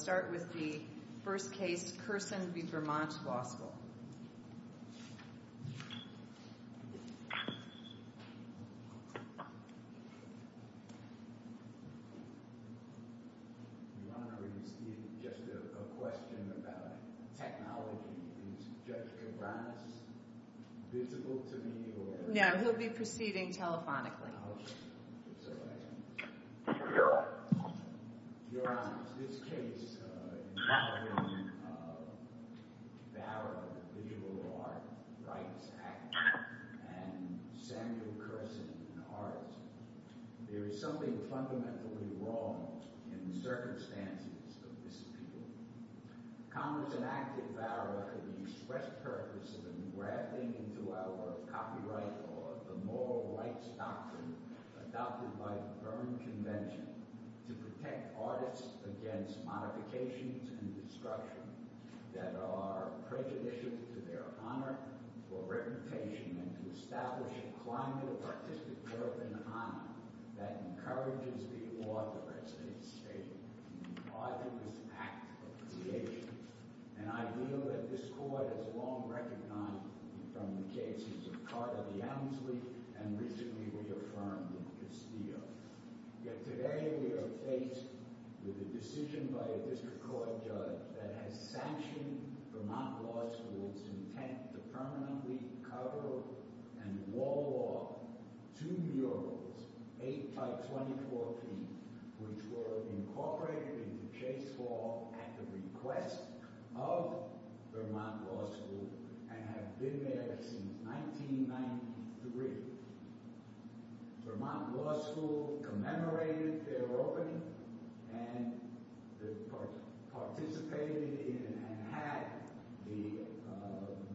I'll start with the first case, Kerson v. Vermont Law School. Your Honor, is it just a question about technology? Is Judge Cabranes visible to me, or... No, he'll be proceeding telephonically. Oh, okay. Your Honor, is this case involving Vara, the visual arts rights activist, and Samuel Kerson, an artist? There is something fundamentally wrong in the circumstances of this appeal. Congress enacted Vara for the express purpose of engrafting into our copyright law the moral rights doctrine adopted by the Berne Convention to protect artists against modifications and destruction that are prejudicial to their honor, or reputation, and to establish a climate of artistic worth and honor that encourages the author, as they state, in the arduous act of creation. And I feel that this Court has long recognized from the cases of Carter v. Ellenslee and recently reaffirmed in Castillo. Yet today we are faced with a decision by a District Court judge that has sanctioned Vermont Law School's intent to permanently cover and wall off two murals, eight by 2014, which were incorporated into case law at the request of Vermont Law School and have been there since 1993. Vermont Law School commemorated their opening and participated in and had the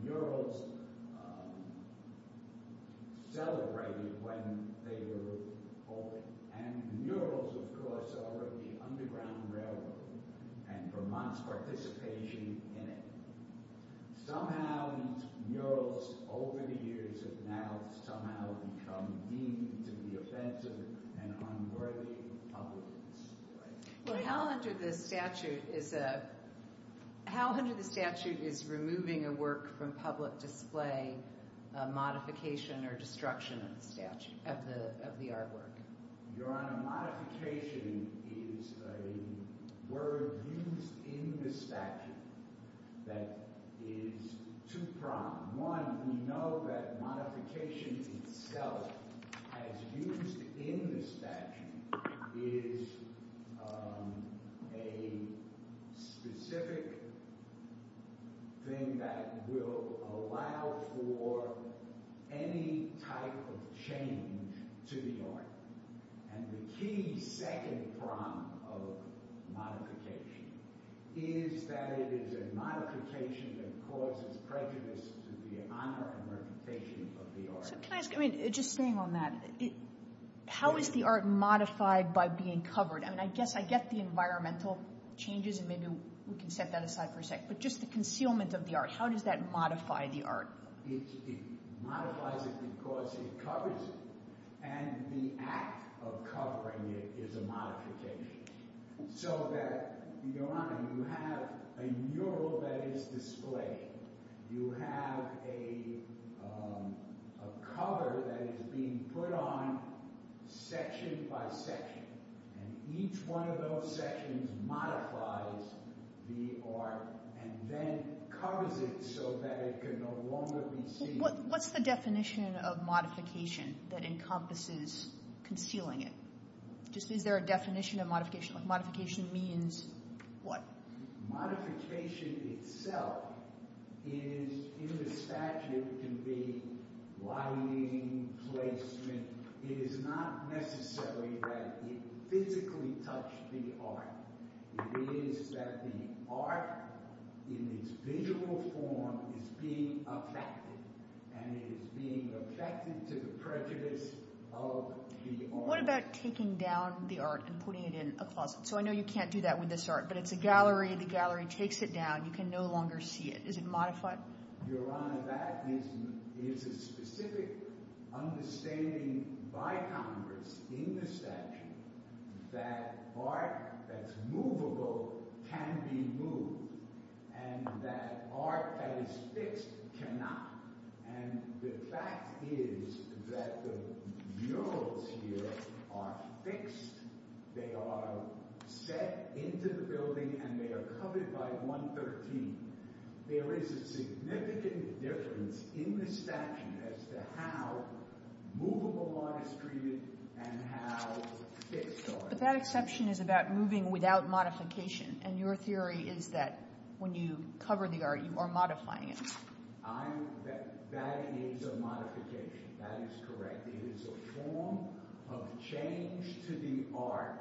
murals celebrated when they were opened. And the murals, of course, are of the Underground Railroad and Vermont's participation in it. Somehow these murals, over the years, have now somehow become deemed to be offensive and unworthy of public display. How under the statute is removing a work from public display a modification or destruction of the artwork? Your Honor, modification is a word used in the statute that is two-pronged. One, we know that modification itself as used in the statute is a specific thing that will allow for any type of change to the art. And the key second prong of modification is that it is a modification that causes prejudice to the honor and reputation of the art. So can I ask, I mean, just staying on that, how is the art modified by being covered? I mean, I guess I get the environmental changes and maybe we can set that aside for a sec, but just the concealment of the art, how does that modify the art? It modifies it because it covers it. And the act of covering it is a modification. So that, Your Honor, you have a mural that is displayed. You have a cover that is being put on section by section. And each one of those sections modifies the art and then covers it so that it can no longer be seen. What's the definition of modification that encompasses concealing it? Just is there a definition of modification? Modification means what? Modification itself is, in the statute, can be lighting, placement. It is not necessarily that it physically touched the art. It is that the art, in its visual form, is being affected. And it is being affected to the prejudice of the art. What about taking down the art and putting it in a closet? So I know you can't do that with this art, but it's a gallery, the gallery takes it down, you can no longer see it. Is it modified? Your Honor, that is a specific understanding by Congress in the statute that art that's movable can be moved and that art that is fixed cannot. And the fact is that the murals here are fixed. They are set into the building and they are covered by 113. There is a significant difference in the statute as to how movable art is treated and how fixed art is. But that exception is about moving without modification and your theory is that when you cover the art you are modifying it. That is a modification. That is correct. It is a form of change to the art.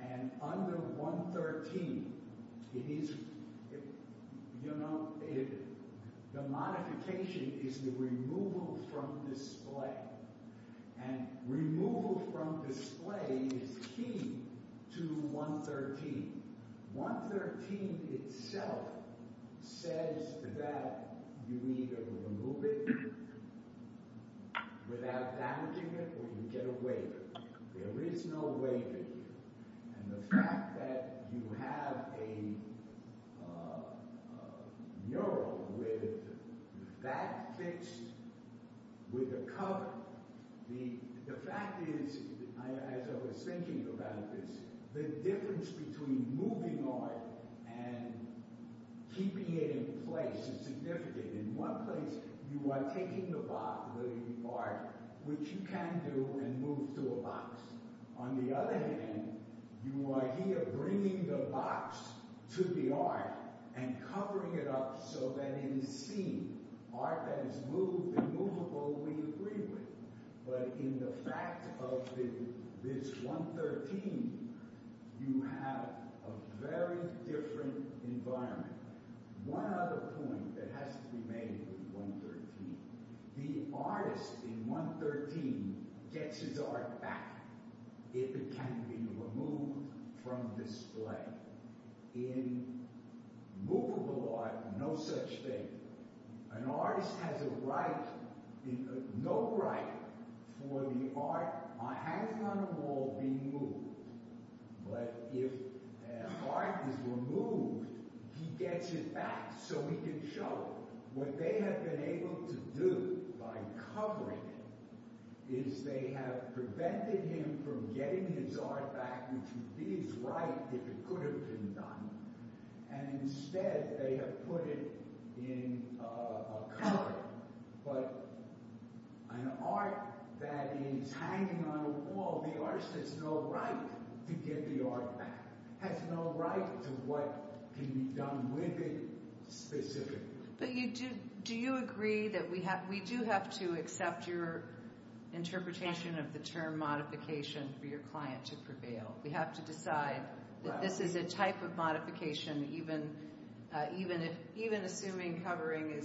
And under 113, it is, you know, the modification is the removal from display. And removal from display is key to 113. 113 itself says that you either remove it without damaging it or you get a waiver. There is no waiver here. And the fact that you have a mural with that fixed with a cover, the fact is, as I was thinking about this, the difference between moving art and keeping it in place is significant. In one place, you are taking the art, which you can do, and move to a box. On the other hand, you are here bringing the box to the art and covering it up so that it is seen. Art that is moved and movable, we agree with. But in the fact of this 113, you have a very different environment. One other point that has to be made with 113, the artist in 113 gets his art back if it can be removed from display. In movable art, no such thing. An artist has no right for the art hanging on the wall being moved. But if art is removed, he gets it back so he can show. What they have been able to do by covering it is they have prevented him from getting his art back, which would be his right if it could have been done. Instead, they have put it in a cupboard. But an art that is hanging on a wall, the artist has no right to get the art back, has no right to what can be done with it specifically. Do you agree that we do have to accept for your client to prevail? We have to decide that this is a type of modification, even assuming covering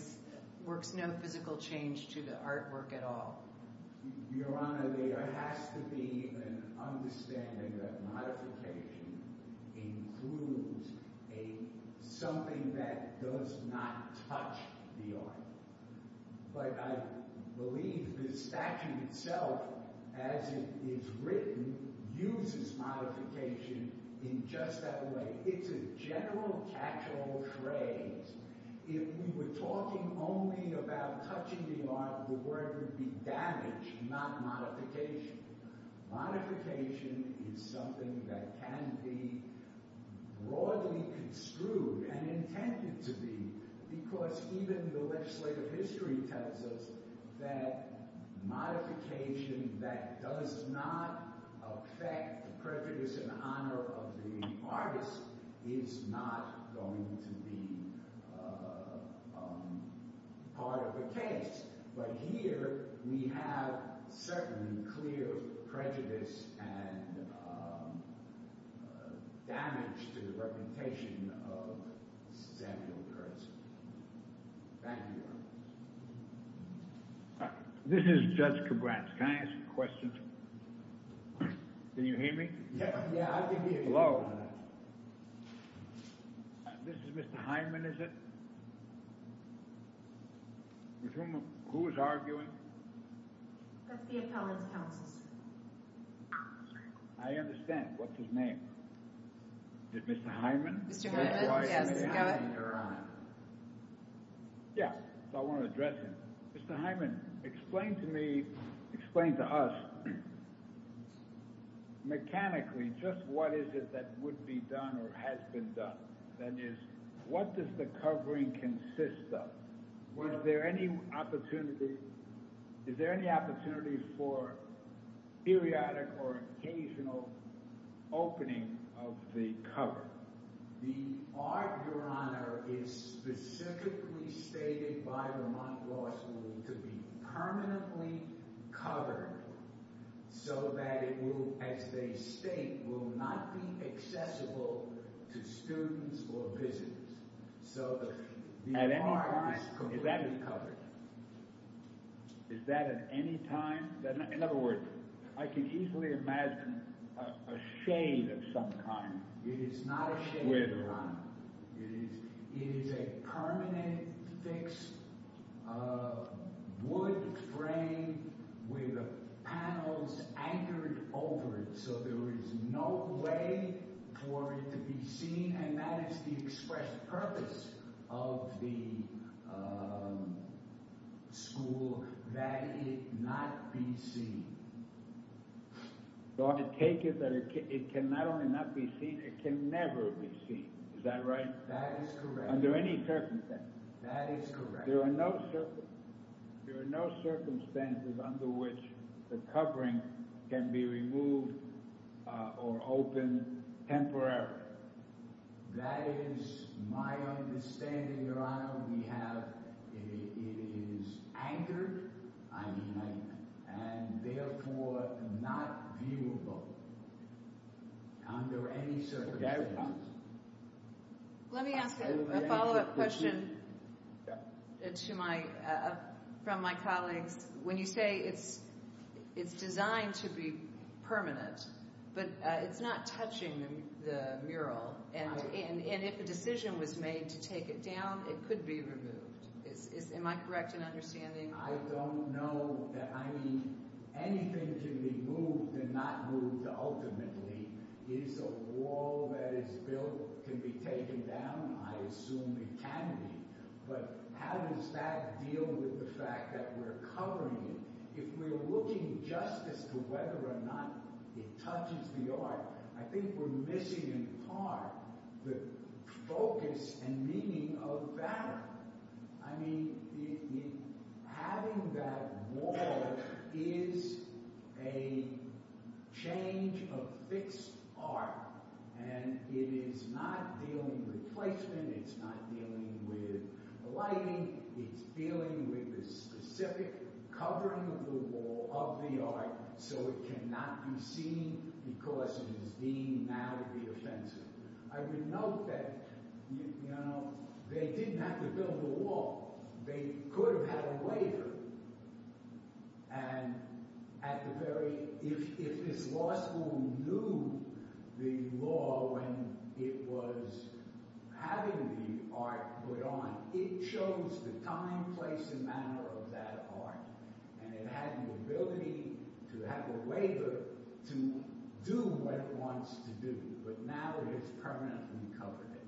works no physical change to the artwork at all. Your Honor, there has to be an understanding that modification includes something that does not touch the art. But I believe the statue itself, as it is written, uses modification in just that way. It's a general catch-all phrase. If we were talking only about touching the art, the word would be damage, not modification. Modification is something that can be broadly construed and intended to be because even the legislative history tells us that modification that does not affect the prejudice and honor of the artist is not going to be part of the case. But here, we have certainly clear prejudice and damage to the reputation of Samuel Kurtz. Thank you, Your Honor. This is Judge Kabratz. Can I ask a question? Can you hear me? Yeah, I can hear you. Hello. This is Mr. Hyman, is it? Who is arguing? That's the appellant's counsel, sir. I understand. What's his name? Is it Mr. Hyman? Mr. Hyman, yes. Go ahead. Yeah, I want to address him. Mr. Hyman, explain to me, explain to us mechanically just what is it that would be done or has been done. That is, what does the covering consist of? Was there any opportunity, is there any opportunity for periodic or occasional opening of the cover? The art, Your Honor, is specifically stated by Vermont Law School to be permanently covered so that it will, as they state, will not be accessible to students or visitors. So the art is completely covered. Is that at any time? In other words, I can easily imagine a shade of some kind. It is not a shade, Your Honor. It is a permanent, fixed wood frame with panels anchored over it so there is no way for it to be seen and that is the express purpose of the school, that it not be seen. So I take it that it can not only not be seen, it can never be seen, is that right? That is correct. Under any circumstances? That is correct. There are no circumstances under which the covering can be removed or opened temporarily? That is my understanding, Your Honor. We have, it is anchored, I mean anchored, and therefore not viewable under any circumstances. Let me ask a follow-up question to my, from my colleagues. When you say it is designed to be permanent, but it is not touching the mural and if a decision was made to take it down, it could be removed. Am I correct in understanding? I do not know that I need anything to be moved and not moved ultimately. Is a wall that is built can be taken down? I assume it can be. But how does that deal with the fact that we are covering it? If we are looking just as to whether or not it touches the art, I think we are missing in part the focus and meaning of that. I mean, having that wall is a change of fixed art and it is not dealing with placement, it is not dealing with lighting, it is dealing with the specific covering of the wall of the art so it cannot be seen because it is deemed now to be offensive. I would note that, you know, they did not have to build a wall. They could have had a waiver and at the very, if this law school knew the law when it was having the art put on, it chose the time, place and manner of that art and it had the ability to have a waiver to do what it wants to do. But now it is permanent and we covered it.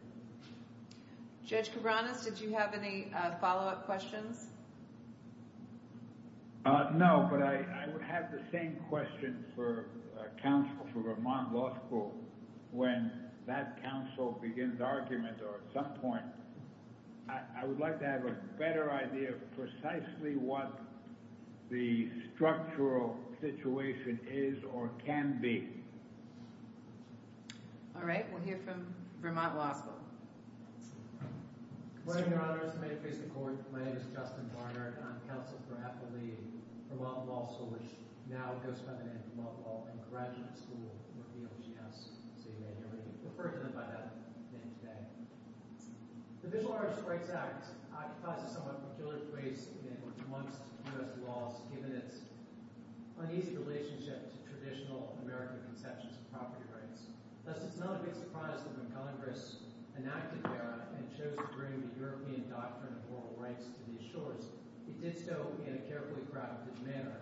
Judge Cabranes, did you have any follow-up questions? No, but I have the same question for counsel for Vermont Law School. When that counsel begins arguments or at some point, I would like to have a better idea of precisely what the structural situation is or can be. All right, we'll hear from Vermont Law School. My name is Justin Barnard and I'm counsel for Appleby, Vermont Law School, which now goes by the name of Vermont Law and Graduate School, referred to by that name today. The Visual Arts Rights Act occupies a somewhat peculiar place amongst U.S. laws given its uneasy relationship to traditional American conceptions of property rights. Thus, it's not a big surprise that when Congress enacted the act and chose to bring the European doctrine of oral rights to these shores, it did so in a carefully crafted manner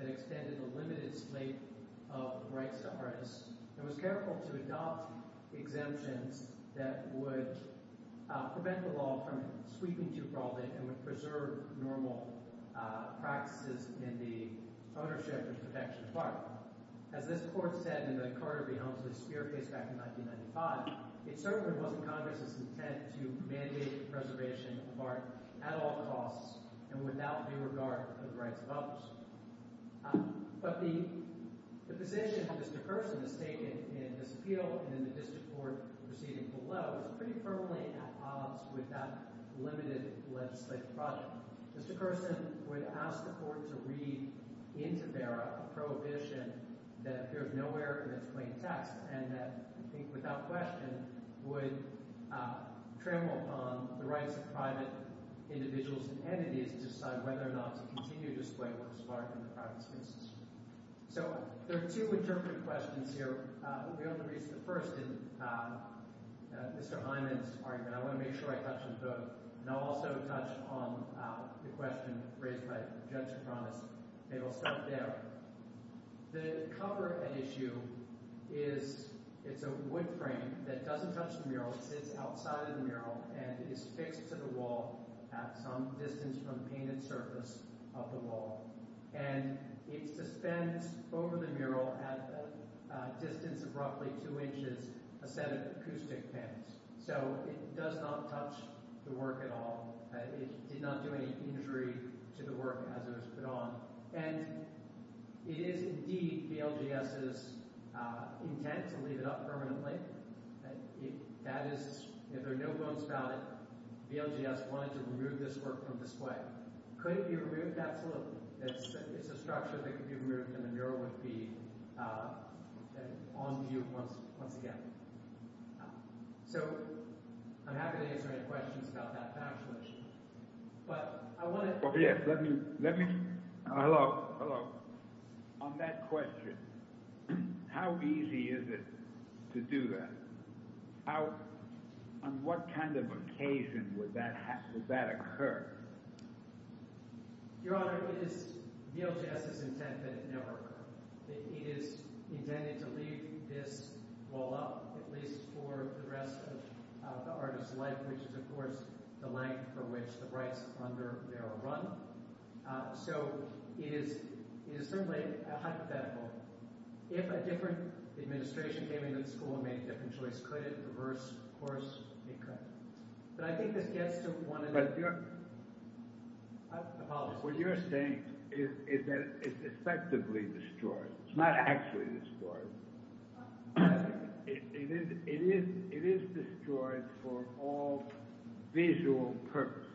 that extended the limited slate of rights to artists and was careful to adopt exemptions that would prevent the law from sweeping too broadly and would preserve normal practices in the ownership and protection of art. As this court said in the Carter v. Helmsley Spear case back in 1995, it certainly wasn't Congress's intent to mandate preservation of art at all costs and without due regard for the rights of others. But the position that Mr. Carson has taken in this appeal and in the district court proceeding below is pretty firmly at odds with that limited legislative project. Mr. Carson would ask the court to read into Vera a prohibition that appears nowhere in its plain text and that, I think without question, would trample upon the rights of private individuals and entities to decide whether or not to continue to display works of art in the private spaces. So there are two interpretive questions here. We only raised the first in Mr. Hyman's argument. I want to make sure I touch on both. And I'll also touch on the question raised by Judge Kronis. It'll start there. The cover at issue is it's a wood frame that doesn't touch the mural. It sits outside of the mural and is fixed to the wall at some distance from the painted surface of the wall. And it suspends over the mural at a distance of roughly two inches a set of acoustic pins. So it does not touch the work at all. It did not do any injury to the work as it was put on. And it is indeed BLGS's intent to leave it up permanently. If there are no bones about it, BLGS wanted to remove this work from display. Could it be removed? Absolutely. It's a structure that could be removed and the mural would be on view once again. So I'm happy to answer any questions about that factually. But I want to... Yes, let me... Hello, hello. On that question, how easy is it to do that? On what kind of occasion would that occur? Your Honor, it is BLGS's intent that it never occur. It is intended to leave this wall up at least for the rest of the artist's life which is, of course, the length for which the rights under there are run. So it is certainly hypothetical. If a different administration came into the school and made a different choice, could it reverse course? It could. But I think this gets to one of the... But your... Apologies. What you're saying is that it's effectively destroyed. It's not actually destroyed. It is destroyed for all visual purpose.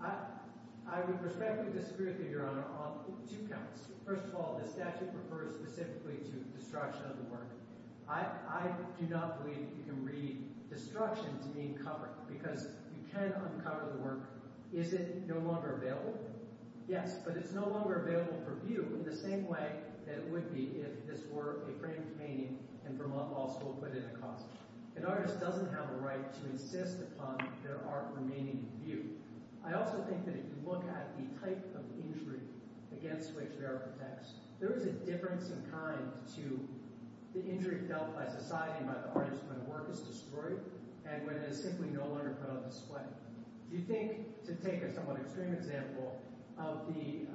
I would respectfully disagree with you, Your Honor, on two counts. First of all, the statute refers specifically to destruction of the work. I do not believe you can read destruction to mean cover because you can uncover the work. Is it no longer available? Yes, but it's no longer available for view in the same way that it would be if this were a framed painting and Vermont Law School put it across. An artist doesn't have a right to insist upon their art remaining in view. I also think that if you look at the type of injury against which Vera protects, there is a difference in kind to the injury felt by society and by the artist when a work is destroyed and when it is simply no longer put on display. Do you think, to take a somewhat extreme example, of the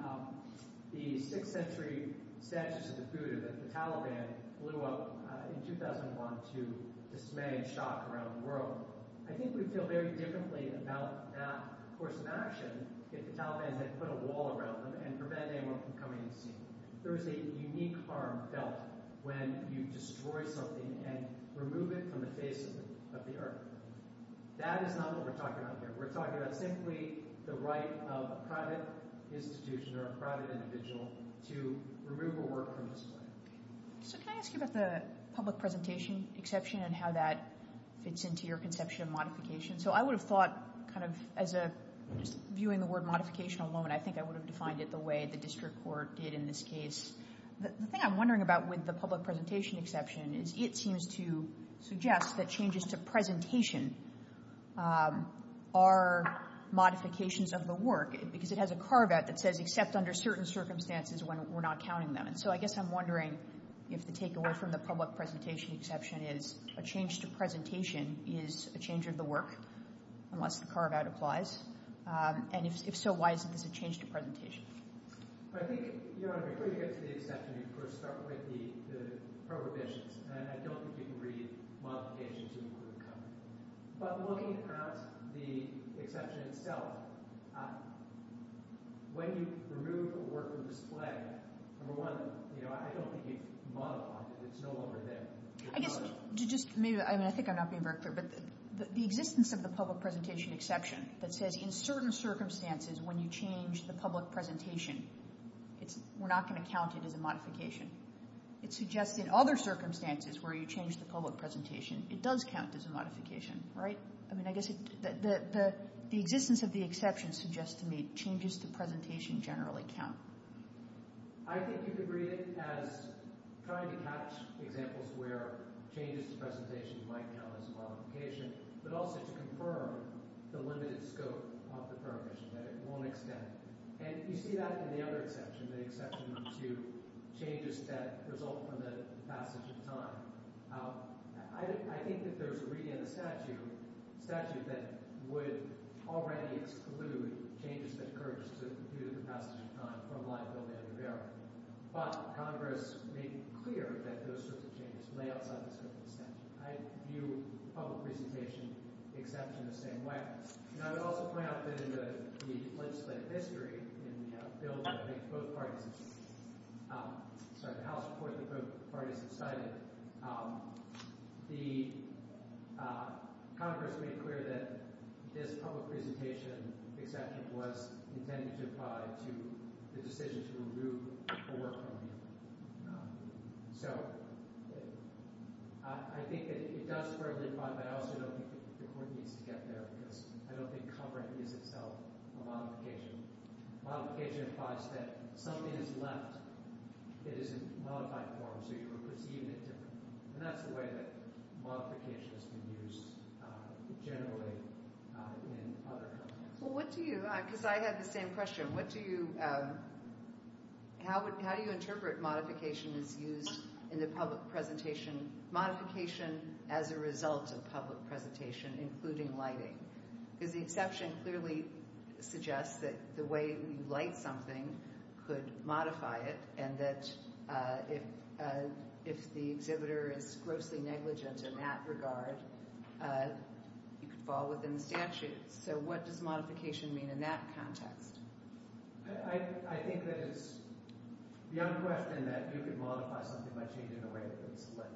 6th Century Statutes of the Buddha that the Taliban blew up in 2001 to dismay and shock around the world, I think we'd feel very differently about that course of action if the Taliban had put a wall around them and prevented anyone from coming and seeing them. There is a unique harm felt when you destroy something and remove it from the face of the earth. That is not what we're talking about here. We're talking about simply the right of a private institution or a private individual to remove a work from display. Can I ask you about the public presentation exception and how that fits into your conception of modification? I would have thought, just viewing the word modification alone, I think I would have defined it the way the district court did in this case. The thing I'm wondering about with the public presentation exception is it seems to suggest that changes to presentation are modifications of the work because it has a carve-out that says except under certain circumstances when we're not counting them. So I guess I'm wondering if the takeaway from the public presentation exception is a change to presentation is a change of the work unless the carve-out applies. And if so, why is this a change to presentation? I think, in order to get to the exception, you first start with the prohibitions. And I don't think you can read modifications in the word cover. But looking at the exception itself, when you remove a work from display, number one, you know, I don't think it's modified. It's no longer there. I guess, just maybe, I mean, I think I'm not being very clear, but the existence of the public presentation exception that says in certain circumstances when you change the public presentation, we're not going to count it as a modification. It suggests in other circumstances where you change the public presentation, it does count as a modification, right? I mean, I guess the existence of the exception suggests to me changes to presentation generally count. I think you could read it as trying to catch examples where changes to presentation might count as a modification, but also to confirm the limited scope of the prohibition, that it won't extend. And you see that in the other exception, the exception to changes that result from the passage of time. I think that there's a reading in the statute that would already exclude changes that occurred due to the passage of time from line, bill, matter, and barrier. But Congress made it clear that those sorts of changes lay outside the scope of the statute. I view public presentation exception the same way. And I would also point out that in the legislative history, in the bill that both parties, sorry, the House report that both parties decided, the Congress made clear that this public presentation exception was intended to apply to the decision to remove a work permit. So, I think that it does partly apply, but I also don't think the Court needs to get there because I don't think covering is itself a modification. Modification implies that something is left that is in modified form, so you are perceiving it differently. And that's the way that modification has been used generally in other contexts. Well, what do you, because I had the same question, what do you, how do you interpret modification as used in the public presentation, modification as a result of public presentation, including lighting? Because the exception clearly suggests that the way you light something could modify it, and that if the exhibitor is grossly negligent in that regard, you could fall within the statute. So what does modification mean in that context? I think that it's beyond question that you could modify something by changing the way that it's lit.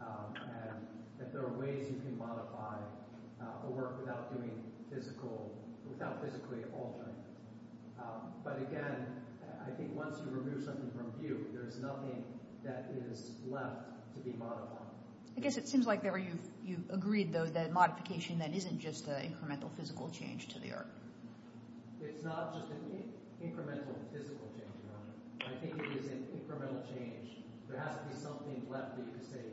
And that there are ways you can modify a work without doing physical, without physically altering it. But again, I think once you remove something from view, there's nothing that is left to be modified. I guess it seems like you've agreed, though, that modification isn't just an incremental physical change to the art. It's not just an incremental physical change. I think it is an incremental change. There has to be something left that you can say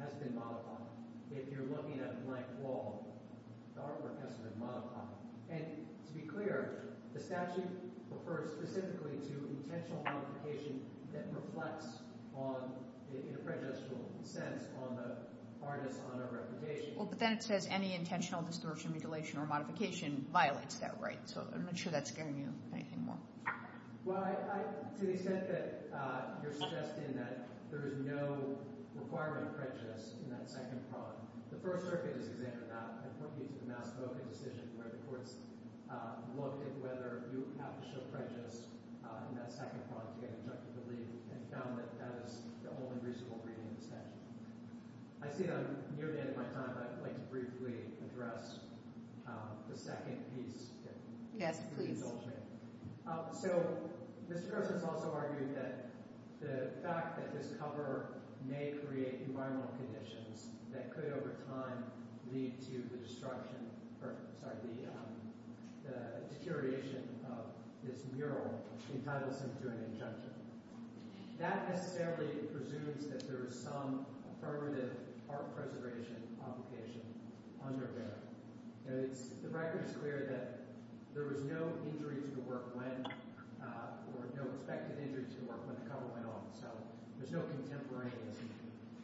has been modified. If you're looking at a blank wall, the artwork has been modified. And to be clear, the statute refers specifically to intentional modification that reflects on, in a prejudicial sense, on the hardness on a reputation. Well, but then it says any intentional distortion, mutilation, or modification violates that right. So I'm not sure that's scaring you anything more. Well, to the extent that you're suggesting that there is no requirement of prejudice in that second prong, the First Circuit is exempt from that. I point you to the mass voting decision where the courts looked at whether you have to show prejudice in that second prong to get an injunctive relief and found that that is the only reasonable reading of the statute. I see that I'm nearing the end of my time, but I'd like to briefly address the second piece. Yes, please. So, Mr. President has also argued that the fact that this cover may create environmental conditions that could over time lead to the destruction or, sorry, the deterioration of this mural entitles him to an injunctive. That necessarily presumes that there is some affirmative art preservation obligation under there. The record is clear that there was no injuries to the work when, or no expected injuries to the work when the cover went off, so there's no contemporaneity.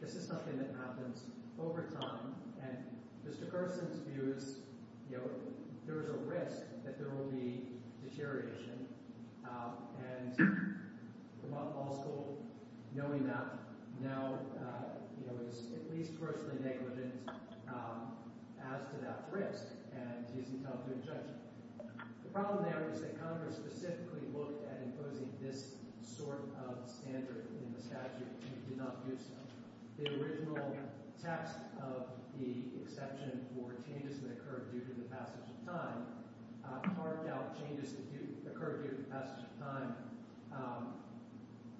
This is something that happens over time, and Mr. Carson's view is, you know, there is a risk that there will be deterioration, and also knowing that now, you know, it is at least personally negligent as to that risk, and he's entitled to a judgment. The problem there is that Congress specifically looked at imposing this sort of standard in the statute and did not use it. The original test of the exception for changes that occurred due to the passage of time marked out changes that occurred due to the passage of time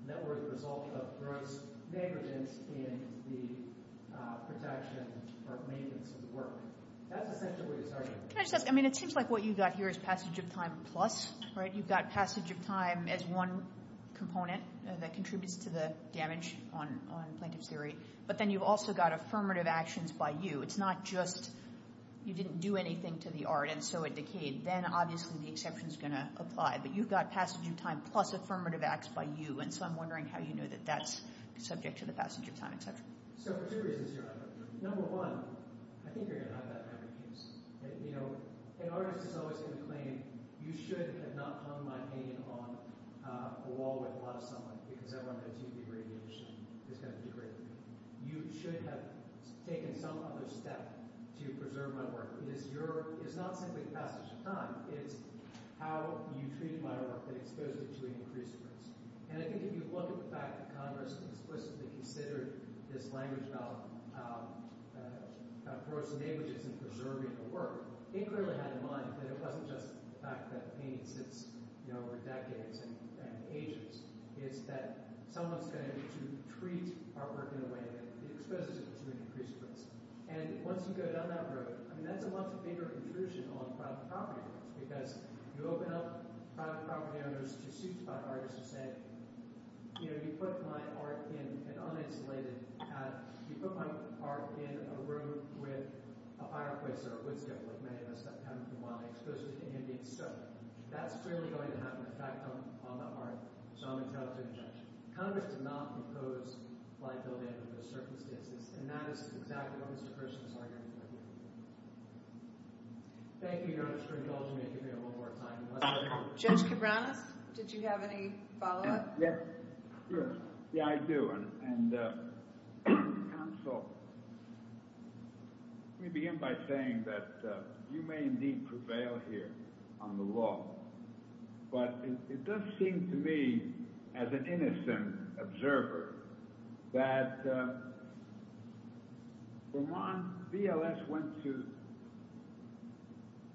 that were the result of gross negligence in the protection or maintenance of the work. That's essentially his argument. Can I just ask, I mean, it seems like what you've got here is passage of time plus, right, you've got passage of time as one component that contributes to the damage on plaintiff's theory, but then you've also got affirmative actions by you. It's not just you didn't do anything to the art and so it decayed. Then, obviously, the exception's going to apply, but you've got passage of time plus affirmative acts by you, and so I'm wondering how you know that that's subject to the passage of time exception. So for two reasons here, number one, I think you're going to have that in every case. You know, an artist is always going to claim you should have not hung my painting on a wall with a lot of sunlight because everyone knows UV radiation is going to degrade the painting. You should have taken some other step to preserve my work. It is not simply passage of time. It's how you treat my work and expose it to an increased risk. And I think if you look at the fact that Congress explicitly considered this language about corrosive languages and preserving the work, they clearly had in mind that it wasn't just the fact that the painting sits, you know, for decades and ages. It's that someone's going to need to treat artwork in a way that exposes it to an increased risk. And once you go down that road, I mean, that's a much bigger intrusion on private property owners because you open up private property owners to suits by artists who say, you know, you put my art in an uninsulated pad, you put my art in a room with a fireplace or a wood stove like many of us have come from while I exposed it to ambient stuff. That's clearly going to have an effect on the art, so I'm entitled to an injunction. Congress did not impose liability under those circumstances and that is exactly what Mr. Kirshner is arguing here. Thank you, Your Honor, for indulging me. Give me one more time. Judge Cabranes, did you have any follow-up? Yeah, I do, and counsel, let me begin by saying that you may indeed prevail here on the law, but it does seem to me, as an innocent observer, that Vermont VLS went to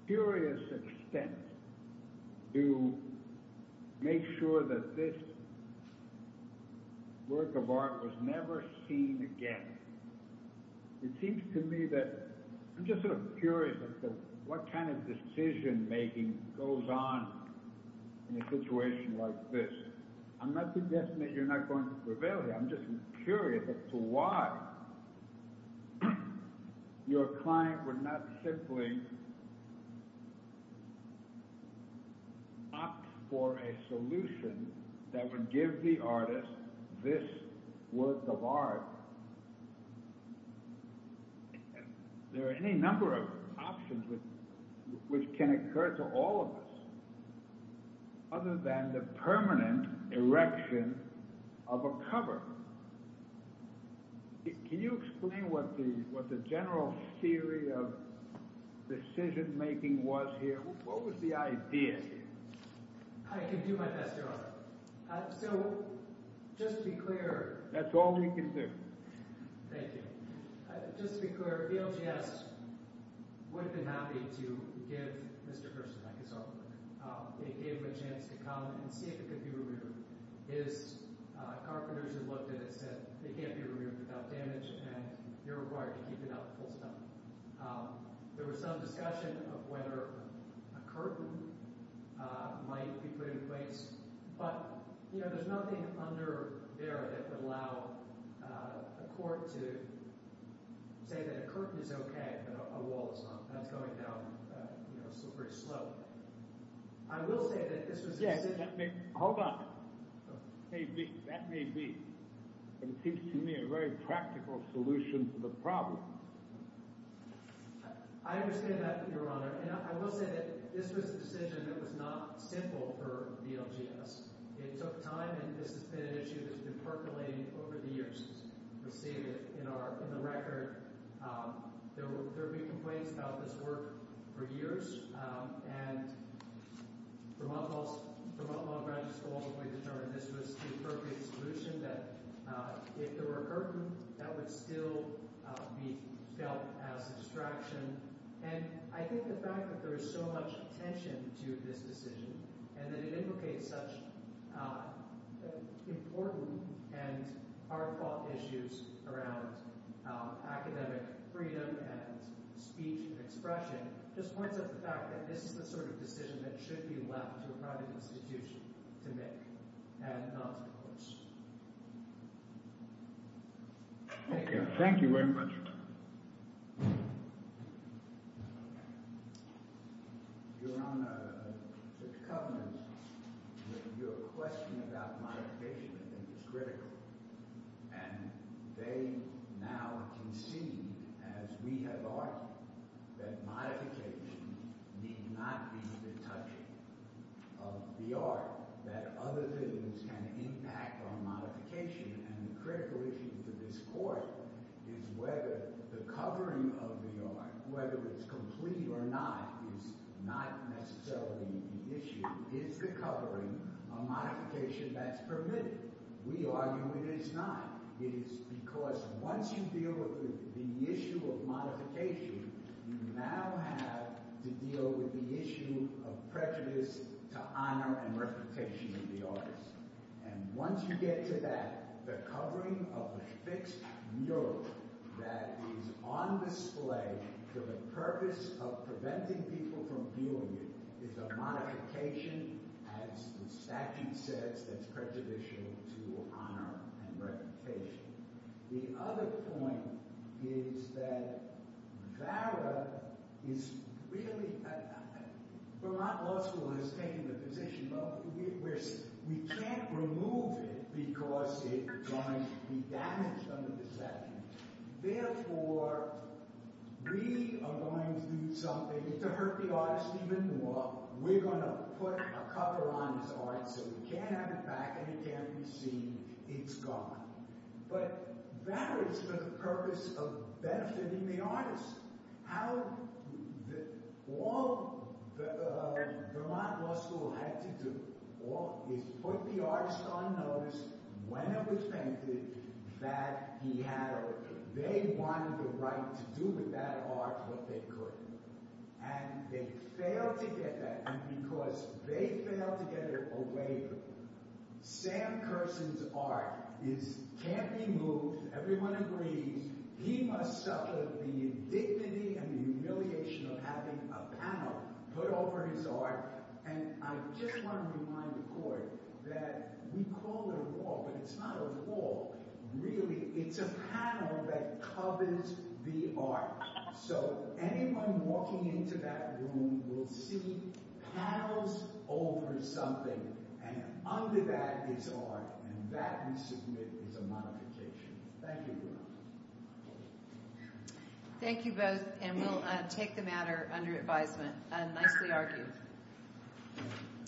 furious extent to make sure that this work of art was never seen again. It seems to me that, I'm just sort of curious as to what kind of decision making goes on in a situation like this. I'm not suggesting that you're not going to prevail here, I'm just curious as to why your client would not simply opt for a solution that would give the artist this work of art. There are any number of which can occur to all of us other than the permanent erection of a cover. Can you explain what the general theory of decision making was here? What was the idea here? I can do my best, Your Honor. So, just to be clear... That's all you can do. Thank you. Just to be clear, VLGS would have been happy to give Mr. Hurston his artwork. They gave him a chance to come and see if it could be removed. His carpenters who looked at it said, they can't be removed without damage, and you're required to keep it up full stop. There was some discussion of whether a curtain might be put in place, but there's nothing under there that would allow a court to say that a curtain is okay, but a wall is not. That's going down pretty slowly. I will say that this was... Hold on. That may be and seems to me a very practical solution to the problem. I understand that, Your Honor, and I will say that this was a decision that was not simple for VLGS. It took time, and this has been an issue that's been percolating over the years and we've received it in the record. There have been complaints about this work for years, and Vermont Law and Graduate School ultimately determined that this was the appropriate solution, that if there were a curtain, that would still be felt as a distraction, and I think the fact that there is so much attention to this decision and that it invocates such important and hard-fought issues around academic freedom and speech and expression, just points out the fact that this is the sort of decision that should be left to a private institution to make and not the courts. Okay. Thank you very much. Your Honor, the covenant with your question about modification, I think, is critical, and they now concede, as we have argued, that modification need not be the touching of the art, that other things can impact on modification, and the critical issue for this Court is whether the covering of the art, whether it's complete or not, is not necessarily the issue. Is the covering a modification that's permitted? We argue it is not. It is because once you deal with the issue of modification, you now have to deal with the issue of prejudice to honor and reputation of the artist. And once you get to that, the covering of a fixed mural that is on display for the purpose of preventing people from viewing it is a modification, as the statute says, that's prejudicial to honor and reputation. The other point is that VARA is really... Vermont Law School has taken the position that we can't remove it because it is going to be damaged under the statute. Therefore, we are going to do something to hurt the artist even more. We're going to put a cover on his art so we can't have it back and it can't be seen. It's gone. But that is the purpose of benefiting the artist. How... All Vermont Law School had to do is put the artist on notice when it was painted that he had a... They wanted the right to do with that art what they could. And they failed to get that. And because they failed to get a waiver, Sam Kersen's art can't be moved. Everyone agrees. He must suffer the indignity and the humiliation of having a panel put over his art. And I just want to remind the Court that we call it a wall, but it's not a wall. Really, it's a panel that covers the art. So anyone walking into that room will see panels over something. And under that is art. And that, we submit, is a modification. Thank you. Thank you both. And we'll take the matter under advisement. Nicely argued.